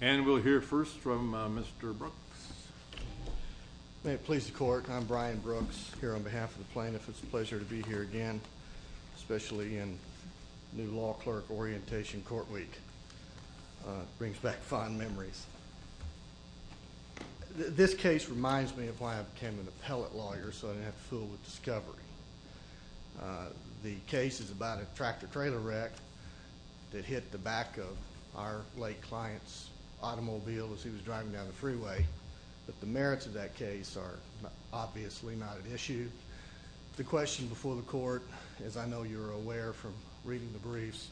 And we'll hear first from Mr. Brooks. May it please the Court, I'm Brian Brooks, here on behalf of the plaintiff. It's a pleasure to be here again, especially in new Law Clerk Orientation Court Week. Brings back fond memories. This case reminds me of why I became an appellate lawyer so I didn't have to fool with discovery. The case is about a tractor-trailer wreck that hit the back of our late client's automobile as he was driving down the freeway. But the merits of that case are obviously not at issue. The question before the Court, as I know you're aware from reading the briefs,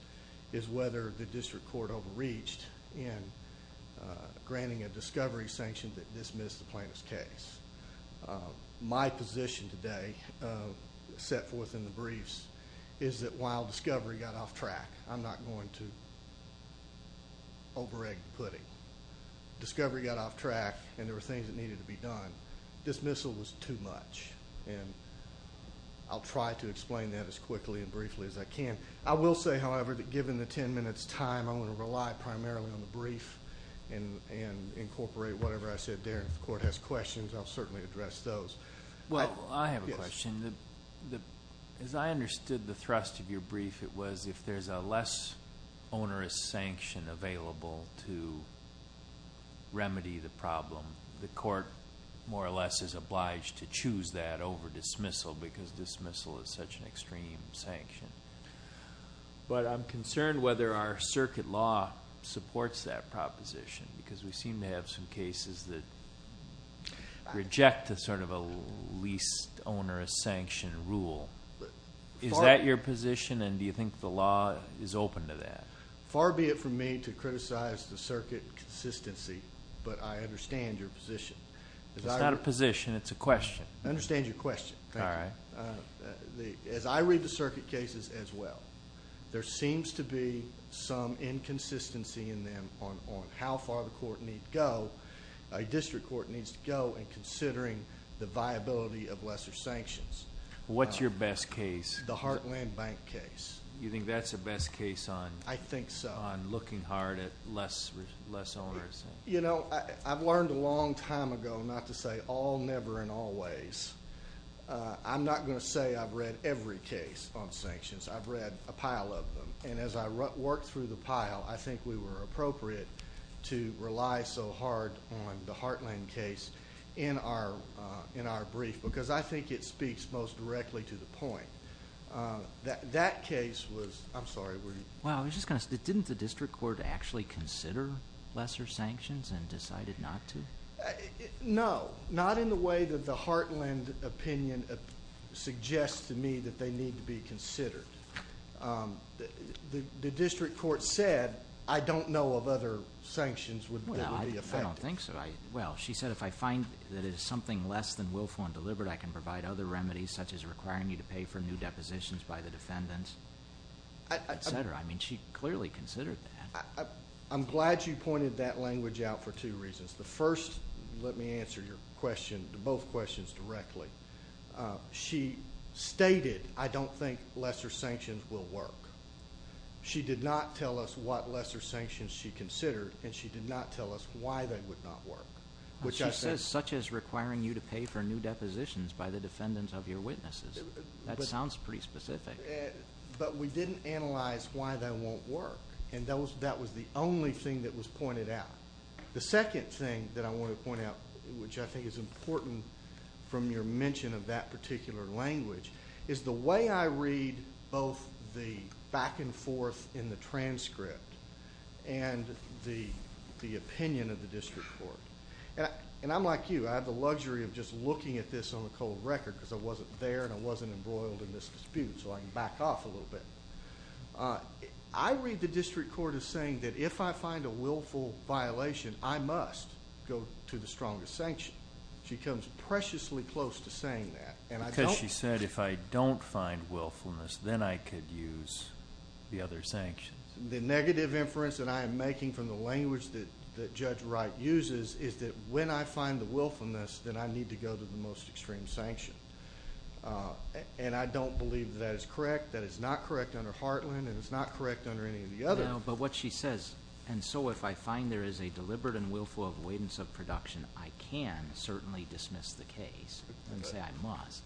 is whether the District Court overreached in granting a discovery sanction that dismissed the plaintiff's case. My position today, set forth in the briefs, is that while discovery got off track, I'm not going to over-egg the pudding. Discovery got off track and there were things that needed to be done. Dismissal was too much, and I'll try to explain that as quickly and briefly as I can. I will say, however, that given the ten minutes' time, I'm going to rely primarily on the brief and incorporate whatever I said there. If the Court has questions, I'll certainly address those. Well, I have a question. As I understood the thrust of your brief, it was if there's a less onerous sanction available to remedy the problem, the Court more or less is obliged to choose that over dismissal because dismissal is such an extreme sanction. But I'm concerned whether our circuit law supports that proposition, because we seem to have some cases that reject sort of a least onerous sanction rule. Is that your position, and do you think the law is open to that? Far be it from me to criticize the circuit consistency, but I understand your position. It's not a position, it's a question. I understand your question. Thank you. As I read the circuit cases as well, there seems to be some inconsistency in them on how far the District Court needs to go in considering the viability of lesser sanctions. What's your best case? The Heartland Bank case. You think that's the best case on looking hard at less onerous? You know, I've learned a long time ago not to say all, never, and always. I'm not going to say I've read every case on sanctions. I've read a pile of them. And as I work through the pile, I think we were appropriate to rely so hard on the Heartland case in our brief, because I think it speaks most directly to the point. That case was, I'm sorry, were you? Well, I was just going to say, didn't the District Court actually consider lesser sanctions and decided not to? No, not in the way that the Heartland opinion suggests to me that they need to be considered. The District Court said, I don't know of other sanctions that would be effective. I don't think so. Well, she said if I find that it is something less than willful and deliberate, I can provide other remedies such as requiring me to pay for new depositions by the defendants, et cetera. I mean, she clearly considered that. I'm glad you pointed that language out for two reasons. The first, let me answer your question, both questions directly. She stated, I don't think lesser sanctions will work. She did not tell us what lesser sanctions she considered, and she did not tell us why they would not work. She says such as requiring you to pay for new depositions by the defendants of your witnesses. That sounds pretty specific. But we didn't analyze why they won't work, and that was the only thing that was pointed out. The second thing that I want to point out, which I think is important from your mention of that particular language, is the way I read both the back and forth in the transcript and the opinion of the District Court. And I'm like you. I have the luxury of just looking at this on the cold record because I wasn't there and I wasn't embroiled in this dispute, so I can back off a little bit. I read the District Court as saying that if I find a willful violation, I must go to the strongest sanction. She comes preciously close to saying that. Because she said if I don't find willfulness, then I could use the other sanctions. The negative inference that I am making from the language that Judge Wright uses is that when I find the willfulness, then I need to go to the most extreme sanction. And I don't believe that is correct. That is not correct under Hartland and it's not correct under any of the others. No, but what she says, and so if I find there is a deliberate and willful avoidance of production, I can certainly dismiss the case and say I must.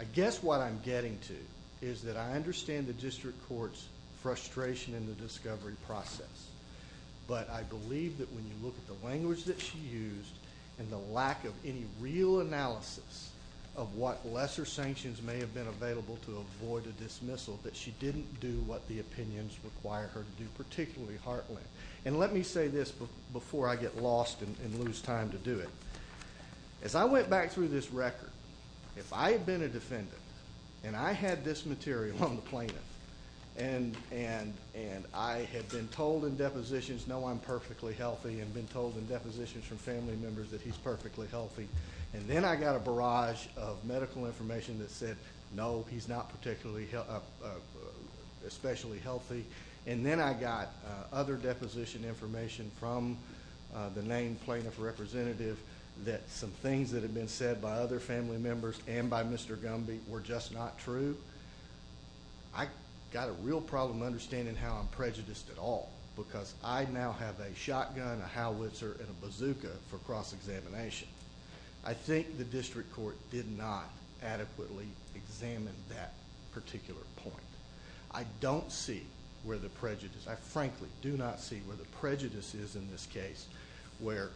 I guess what I'm getting to is that I understand the District Court's frustration in the discovery process, but I believe that when you look at the language that she used and the lack of any real analysis of what lesser sanctions may have been available to avoid a dismissal, that she didn't do what the opinions require her to do, particularly Hartland. And let me say this before I get lost and lose time to do it. As I went back through this record, if I had been a defendant and I had this material on the plaintiff, and I had been told in depositions, no, I'm perfectly healthy, and been told in depositions from family members that he's perfectly healthy, and then I got a barrage of medical information that said, no, he's not particularly especially healthy, and then I got other deposition information from the named plaintiff representative that some things that had been said by other family members and by Mr. Gumby were just not true, I got a real problem understanding how I'm prejudiced at all, because I now have a shotgun, a howitzer, and a bazooka for cross-examination. I think the district court did not adequately examine that particular point. I don't see where the prejudice, I frankly do not see where the prejudice is in this case, where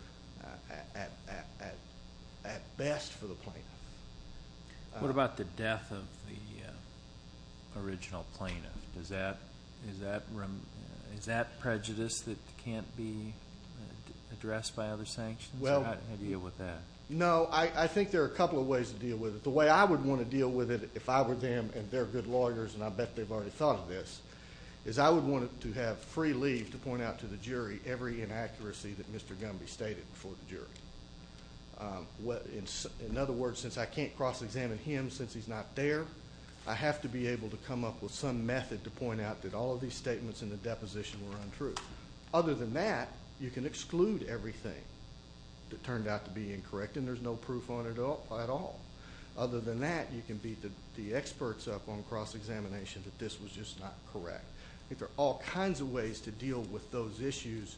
at best for the plaintiff. What about the death of the original plaintiff? Is that prejudice that can't be addressed by other sanctions? How do you deal with that? No, I think there are a couple of ways to deal with it. The way I would want to deal with it if I were them and they're good lawyers, and I bet they've already thought of this, is I would want to have free leave to point out to the jury every inaccuracy that Mr. Gumby stated before the jury. In other words, since I can't cross-examine him since he's not there, I have to be able to come up with some method to point out that all of these statements in the deposition were untrue. Other than that, you can exclude everything that turned out to be incorrect, and there's no proof on it at all. Other than that, you can beat the experts up on cross-examination that this was just not correct. I think there are all kinds of ways to deal with those issues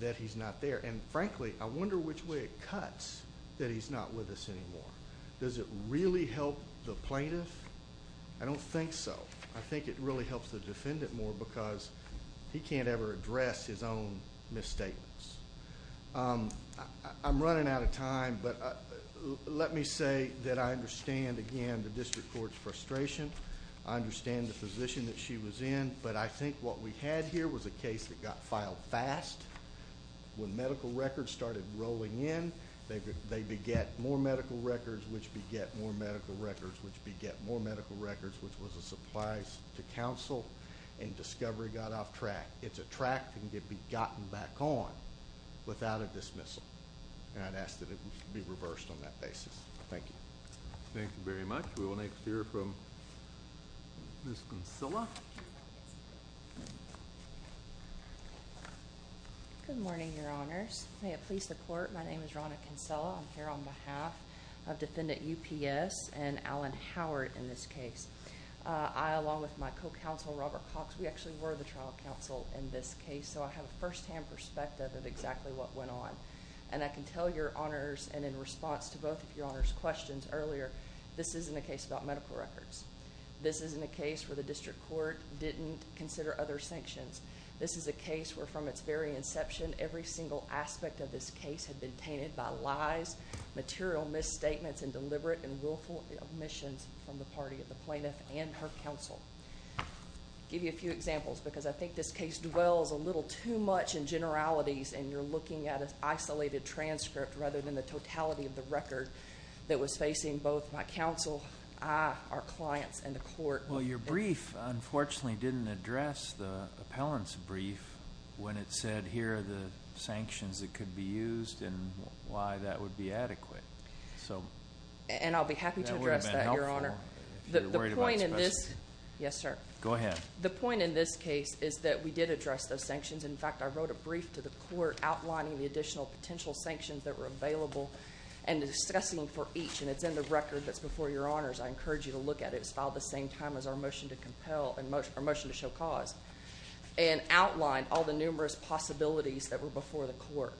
that he's not there. And frankly, I wonder which way it cuts that he's not with us anymore. Does it really help the plaintiff? I don't think so. I think it really helps the defendant more because he can't ever address his own misstatements. I'm running out of time, but let me say that I understand, again, the district court's frustration. I understand the position that she was in. But I think what we had here was a case that got filed fast. When medical records started rolling in, they beget more medical records, which beget more medical records, which beget more medical records, which was a supplies to counsel, and discovery got off track. It's a track that can be gotten back on without a dismissal. And I'd ask that it be reversed on that basis. Thank you. Thank you very much. We will next hear from Ms. Kinsella. Good morning, Your Honors. May it please the Court, my name is Ronna Kinsella. I'm here on behalf of Defendant UPS and Alan Howard in this case. I, along with my co-counsel, Robert Cox, we actually were the trial counsel in this case, so I have a firsthand perspective of exactly what went on. And I can tell Your Honors, and in response to both of Your Honors' questions earlier, this isn't a case about medical records. This isn't a case where the district court didn't consider other sanctions. This is a case where, from its very inception, every single aspect of this case had been tainted by lies, material misstatements, and deliberate and willful omissions from the party of the plaintiff and her counsel. I'll give you a few examples because I think this case dwells a little too much in generalities, and you're looking at an isolated transcript rather than the totality of the record that was facing both my counsel, our clients, and the court. Well, your brief, unfortunately, didn't address the appellant's brief when it said here are the sanctions that could be used and why that would be adequate. And I'll be happy to address that, Your Honor. That would have been helpful if you were worried about this. Yes, sir. Go ahead. The point in this case is that we did address those sanctions. In fact, I wrote a brief to the court outlining the additional potential sanctions that were available and discussing for each, and it's in the record that's before your honors. I encourage you to look at it. It's filed the same time as our motion to show cause and outlined all the numerous possibilities that were before the court.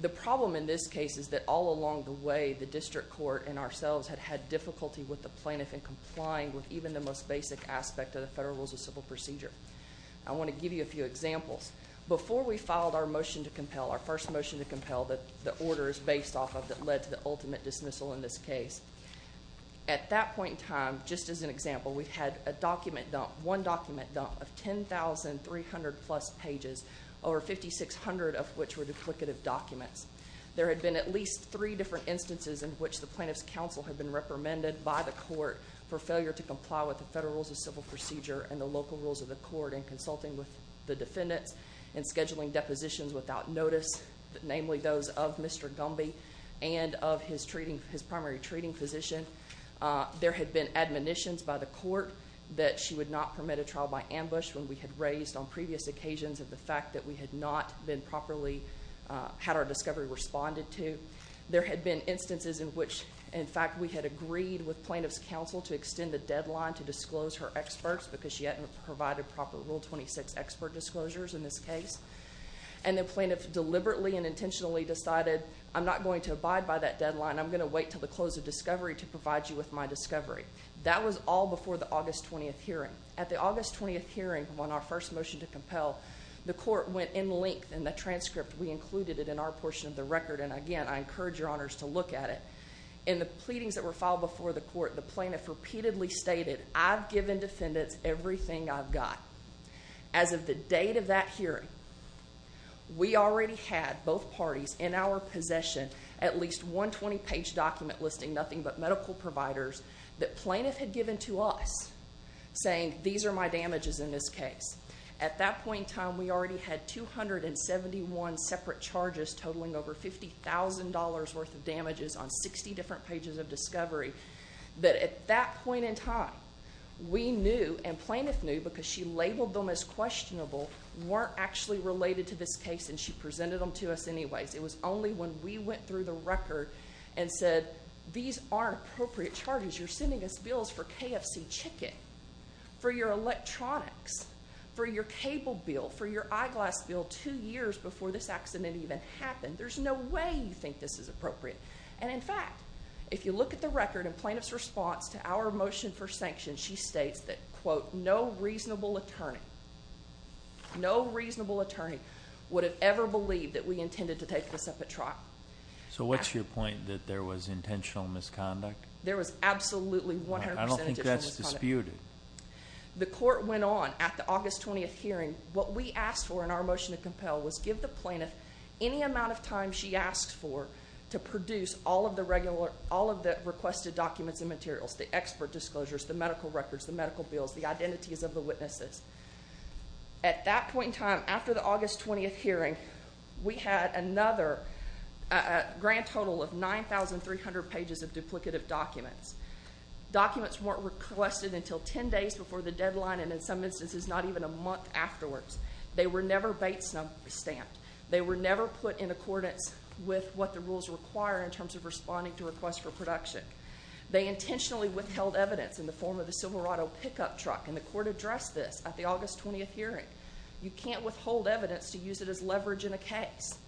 The problem in this case is that all along the way, the district court and ourselves had had difficulty with the plaintiff in complying with even the most basic aspect of the federal rules of civil procedure. I want to give you a few examples. Before we filed our motion to compel, our first motion to compel that the order is based off of that led to the ultimate dismissal in this case, at that point in time, just as an example, we had a document dump, one document dump of 10,300-plus pages, over 5,600 of which were duplicative documents. There had been at least three different instances in which the plaintiff's counsel had been reprimanded by the court for failure to comply with the federal rules of civil procedure and the local rules of the court in consulting with the defendants in scheduling depositions without notice, namely those of Mr. Gumby and of his primary treating physician. There had been admonitions by the court that she would not permit a trial by ambush when we had raised on previous occasions of the fact that we had not been properly, had our discovery responded to. There had been instances in which, in fact, we had agreed with plaintiff's counsel to extend the deadline to disclose her experts because she hadn't provided proper Rule 26 expert disclosures in this case. And the plaintiff deliberately and intentionally decided, I'm not going to abide by that deadline. I'm going to wait until the close of discovery to provide you with my discovery. That was all before the August 20th hearing. At the August 20th hearing, when our first motion to compel, the court went in length in the transcript. We included it in our portion of the record. And, again, I encourage your honors to look at it. In the pleadings that were filed before the court, the plaintiff repeatedly stated, I've given defendants everything I've got. As of the date of that hearing, we already had both parties in our possession at least 120-page document listing nothing but medical providers that plaintiff had given to us saying, these are my damages in this case. At that point in time, we already had 271 separate charges totaling over $50,000 worth of damages on 60 different pages of discovery. But at that point in time, we knew and plaintiff knew, because she labeled them as questionable, weren't actually related to this case and she presented them to us anyways. It was only when we went through the record and said, these aren't appropriate charges. You're sending us bills for KFC chicken, for your electronics. For your cable bill, for your eyeglass bill two years before this accident even happened. There's no way you think this is appropriate. And, in fact, if you look at the record and plaintiff's response to our motion for sanctions, she states that, quote, no reasonable attorney, no reasonable attorney would have ever believed that we intended to take this up at trial. So what's your point, that there was intentional misconduct? There was absolutely 100% intentional misconduct. I don't think that's disputed. The court went on at the August 20th hearing. What we asked for in our motion to compel was give the plaintiff any amount of time she asked for to produce all of the requested documents and materials, the expert disclosures, the medical records, the medical bills, the identities of the witnesses. At that point in time, after the August 20th hearing, we had another grand total of 9,300 pages of duplicative documents. Documents weren't requested until 10 days before the deadline and, in some instances, not even a month afterwards. They were never Bates number stamped. They were never put in accordance with what the rules require in terms of responding to requests for production. They intentionally withheld evidence in the form of the Silverado pickup truck, and the court addressed this at the August 20th hearing. You can't withhold evidence to use it as leverage in a case.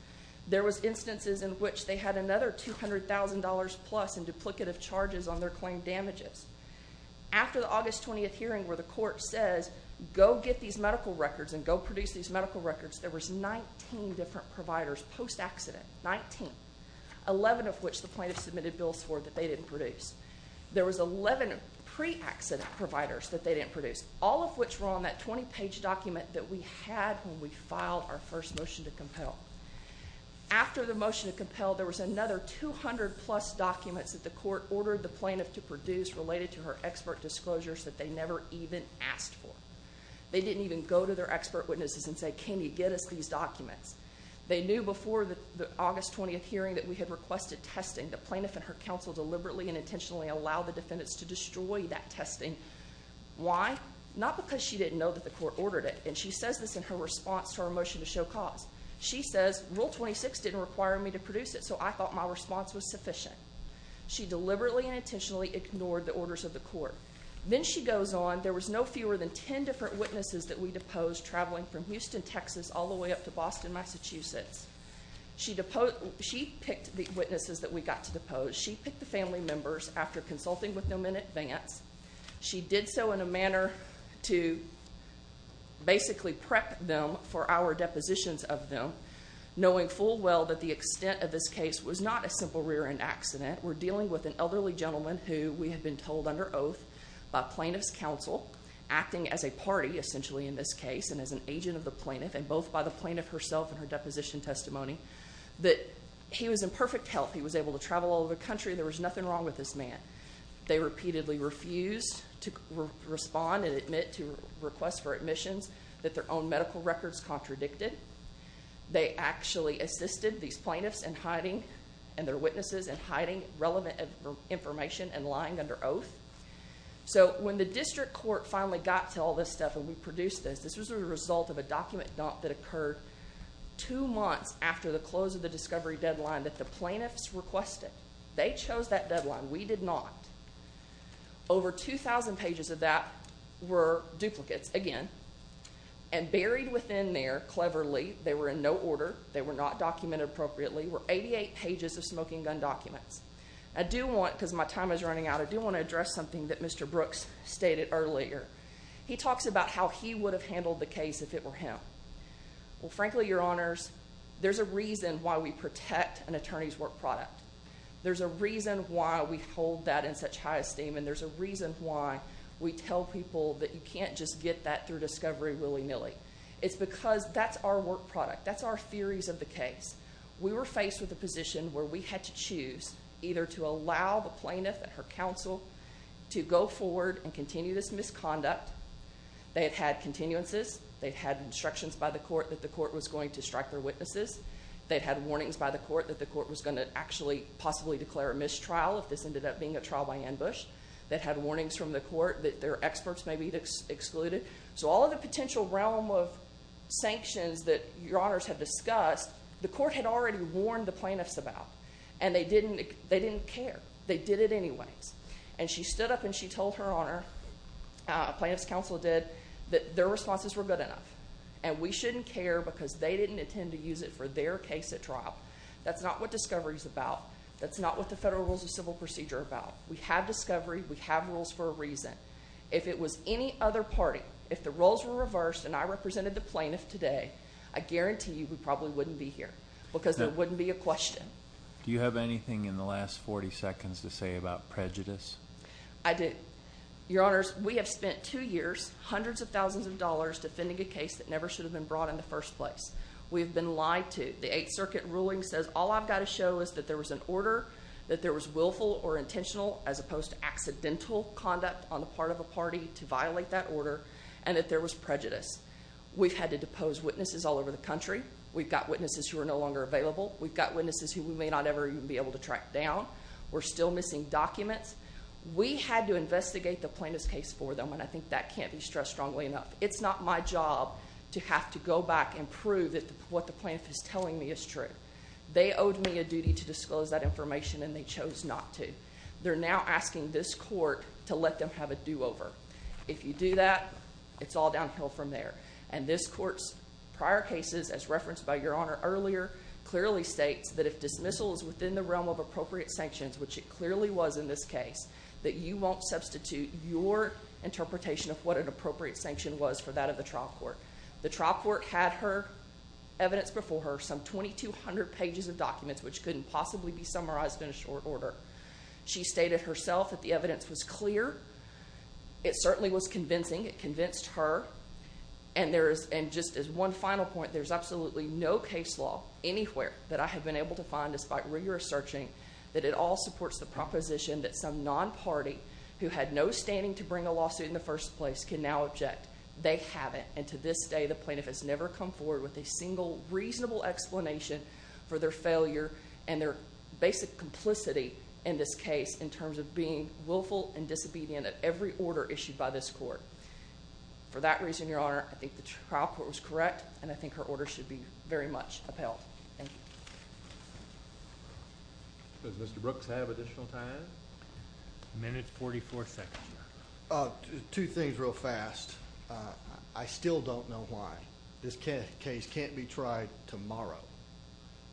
There was instances in which they had another $200,000 plus in duplicative charges on their claim damages. After the August 20th hearing where the court says, go get these medical records and go produce these medical records, there was 19 different providers post-accident, 19, 11 of which the plaintiff submitted bills for that they didn't produce. There was 11 pre-accident providers that they didn't produce, all of which were on that 20-page document that we had when we filed our first motion to compel. After the motion to compel, there was another 200 plus documents that the court ordered the plaintiff to produce related to her expert disclosures that they never even asked for. They didn't even go to their expert witnesses and say, can you get us these documents? They knew before the August 20th hearing that we had requested testing. The plaintiff and her counsel deliberately and intentionally allowed the defendants to destroy that testing. Why? Not because she didn't know that the court ordered it, and she says this in her response to our motion to show cause. She says, Rule 26 didn't require me to produce it, so I thought my response was sufficient. She deliberately and intentionally ignored the orders of the court. Then she goes on, there was no fewer than 10 different witnesses that we deposed traveling from Houston, Texas all the way up to Boston, Massachusetts. She picked the witnesses that we got to depose. She picked the family members after consulting with them in advance. She did so in a manner to basically prep them for our depositions of them, knowing full well that the extent of this case was not a simple rear-end accident. We're dealing with an elderly gentleman who we had been told under oath by plaintiff's counsel, acting as a party essentially in this case and as an agent of the plaintiff, and both by the plaintiff herself and her deposition testimony, that he was in perfect health. He was able to travel all over the country. There was nothing wrong with this man. They repeatedly refused to respond and admit to requests for admissions that their own medical records contradicted. They actually assisted these plaintiffs in hiding and their witnesses in hiding relevant information and lying under oath. So when the district court finally got to all this stuff and we produced this, this was a result of a document dump that occurred two months after the close of the discovery deadline that the plaintiffs requested. They chose that deadline. We did not. Over 2,000 pages of that were duplicates, again, and buried within there, cleverly, they were in no order, they were not documented appropriately, were 88 pages of smoking gun documents. I do want, because my time is running out, I do want to address something that Mr. Brooks stated earlier. He talks about how he would have handled the case if it were him. Well, frankly, Your Honors, there's a reason why we protect an attorney's work product. There's a reason why we hold that in such high esteem, and there's a reason why we tell people that you can't just get that through discovery willy-nilly. It's because that's our work product. That's our theories of the case. We were faced with a position where we had to choose either to allow the plaintiff and her counsel to go forward and continue this misconduct. They had had continuances. They had instructions by the court that the court was going to strike their witnesses. They had warnings by the court that the court was going to actually possibly declare a mistrial if this ended up being a trial by ambush. They had warnings from the court that their experts may be excluded. So all of the potential realm of sanctions that Your Honors have discussed, the court had already warned the plaintiffs about, and they didn't care. They did it anyways. And she stood up and she told Her Honor, plaintiff's counsel did, that their responses were good enough, and we shouldn't care because they didn't intend to use it for their case at trial. That's not what discovery is about. That's not what the federal rules of civil procedure are about. We have discovery. We have rules for a reason. If it was any other party, if the roles were reversed and I represented the plaintiff today, I guarantee you we probably wouldn't be here because there wouldn't be a question. Do you have anything in the last 40 seconds to say about prejudice? I do. Your Honors, we have spent two years, hundreds of thousands of dollars, defending a case that never should have been brought in the first place. We have been lied to. The Eighth Circuit ruling says all I've got to show is that there was an order, that there was willful or intentional as opposed to accidental conduct on the part of a party to violate that order, and that there was prejudice. We've had to depose witnesses all over the country. We've got witnesses who are no longer available. We've got witnesses who we may not ever even be able to track down. We're still missing documents. We had to investigate the plaintiff's case for them, and I think that can't be stressed strongly enough. It's not my job to have to go back and prove that what the plaintiff is telling me is true. They owed me a duty to disclose that information, and they chose not to. They're now asking this court to let them have a do-over. If you do that, it's all downhill from there. And this court's prior cases, as referenced by Your Honor earlier, clearly states that if dismissal is within the realm of appropriate sanctions, which it clearly was in this case, that you won't substitute your interpretation of what an appropriate sanction was for that of the trial court. The trial court had her, evidence before her, some 2,200 pages of documents which couldn't possibly be summarized in a short order. It certainly was convincing. It convinced her. And just as one final point, there's absolutely no case law anywhere that I have been able to find, despite rigorous searching, that at all supports the proposition that some non-party who had no standing to bring a lawsuit in the first place can now object. They haven't. And to this day, the plaintiff has never come forward with a single reasonable explanation for their failure and their basic complicity in this case in terms of being willful and disobedient at every order issued by this court. For that reason, Your Honor, I think the trial court was correct, and I think her order should be very much upheld. Thank you. Does Mr. Brooks have additional time? A minute and 44 seconds, Your Honor. Two things real fast. I still don't know why this case can't be tried tomorrow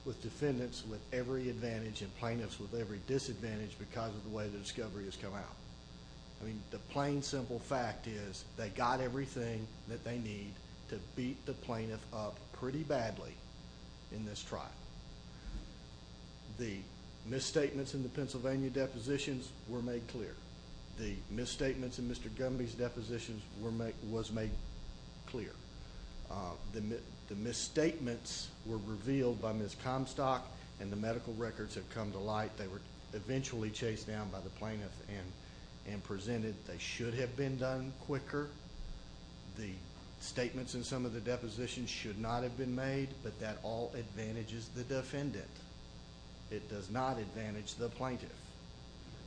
with defendants with every advantage and plaintiffs with every disadvantage because of the way the discovery has come out. The plain, simple fact is they got everything that they need to beat the plaintiff up pretty badly in this trial. The misstatements in the Pennsylvania depositions were made clear. The misstatements in Mr. Gumby's depositions was made clear. The misstatements were revealed by Ms. Comstock, and the medical records have come to light. They were eventually chased down by the plaintiff and presented. They should have been done quicker. The statements in some of the depositions should not have been made, but that all advantages the defendant. It does not advantage the plaintiff.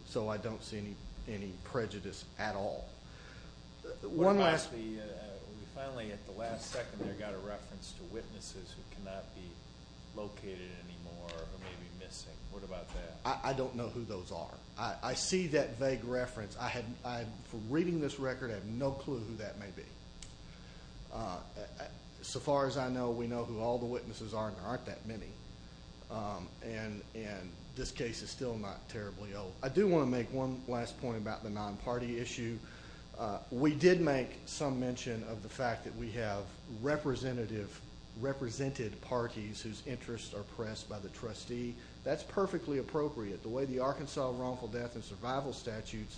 So I don't see any prejudice at all. One last thing. Finally, at the last second, there got a reference to witnesses who cannot be located anymore or who may be missing. What about that? I don't know who those are. I see that vague reference. From reading this record, I have no clue who that may be. So far as I know, we know who all the witnesses are, and there aren't that many. This case is still not terribly old. I do want to make one last point about the non-party issue. We did make some mention of the fact that we have represented parties whose interests are pressed by the trustee. That's perfectly appropriate. The way the Arkansas wrongful death and survival statutes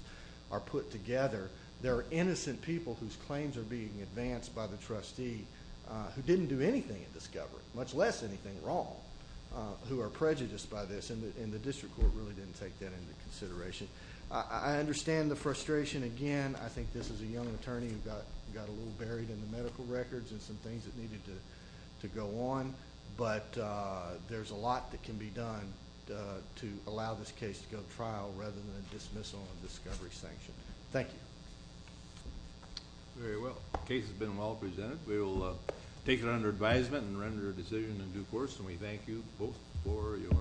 are put together, there are innocent people whose claims are being advanced by the trustee who didn't do anything in discovery, much less anything wrong, who are prejudiced by this, and the district court really didn't take that into consideration. I understand the frustration, again. I think this is a young attorney who got a little buried in the medical records and some things that needed to go on, but there's a lot that can be done to allow this case to go to trial rather than dismissal and discovery sanction. Thank you. Very well. The case has been well presented. We will take it under advisement and render a decision in due course, and we thank you both for your patience.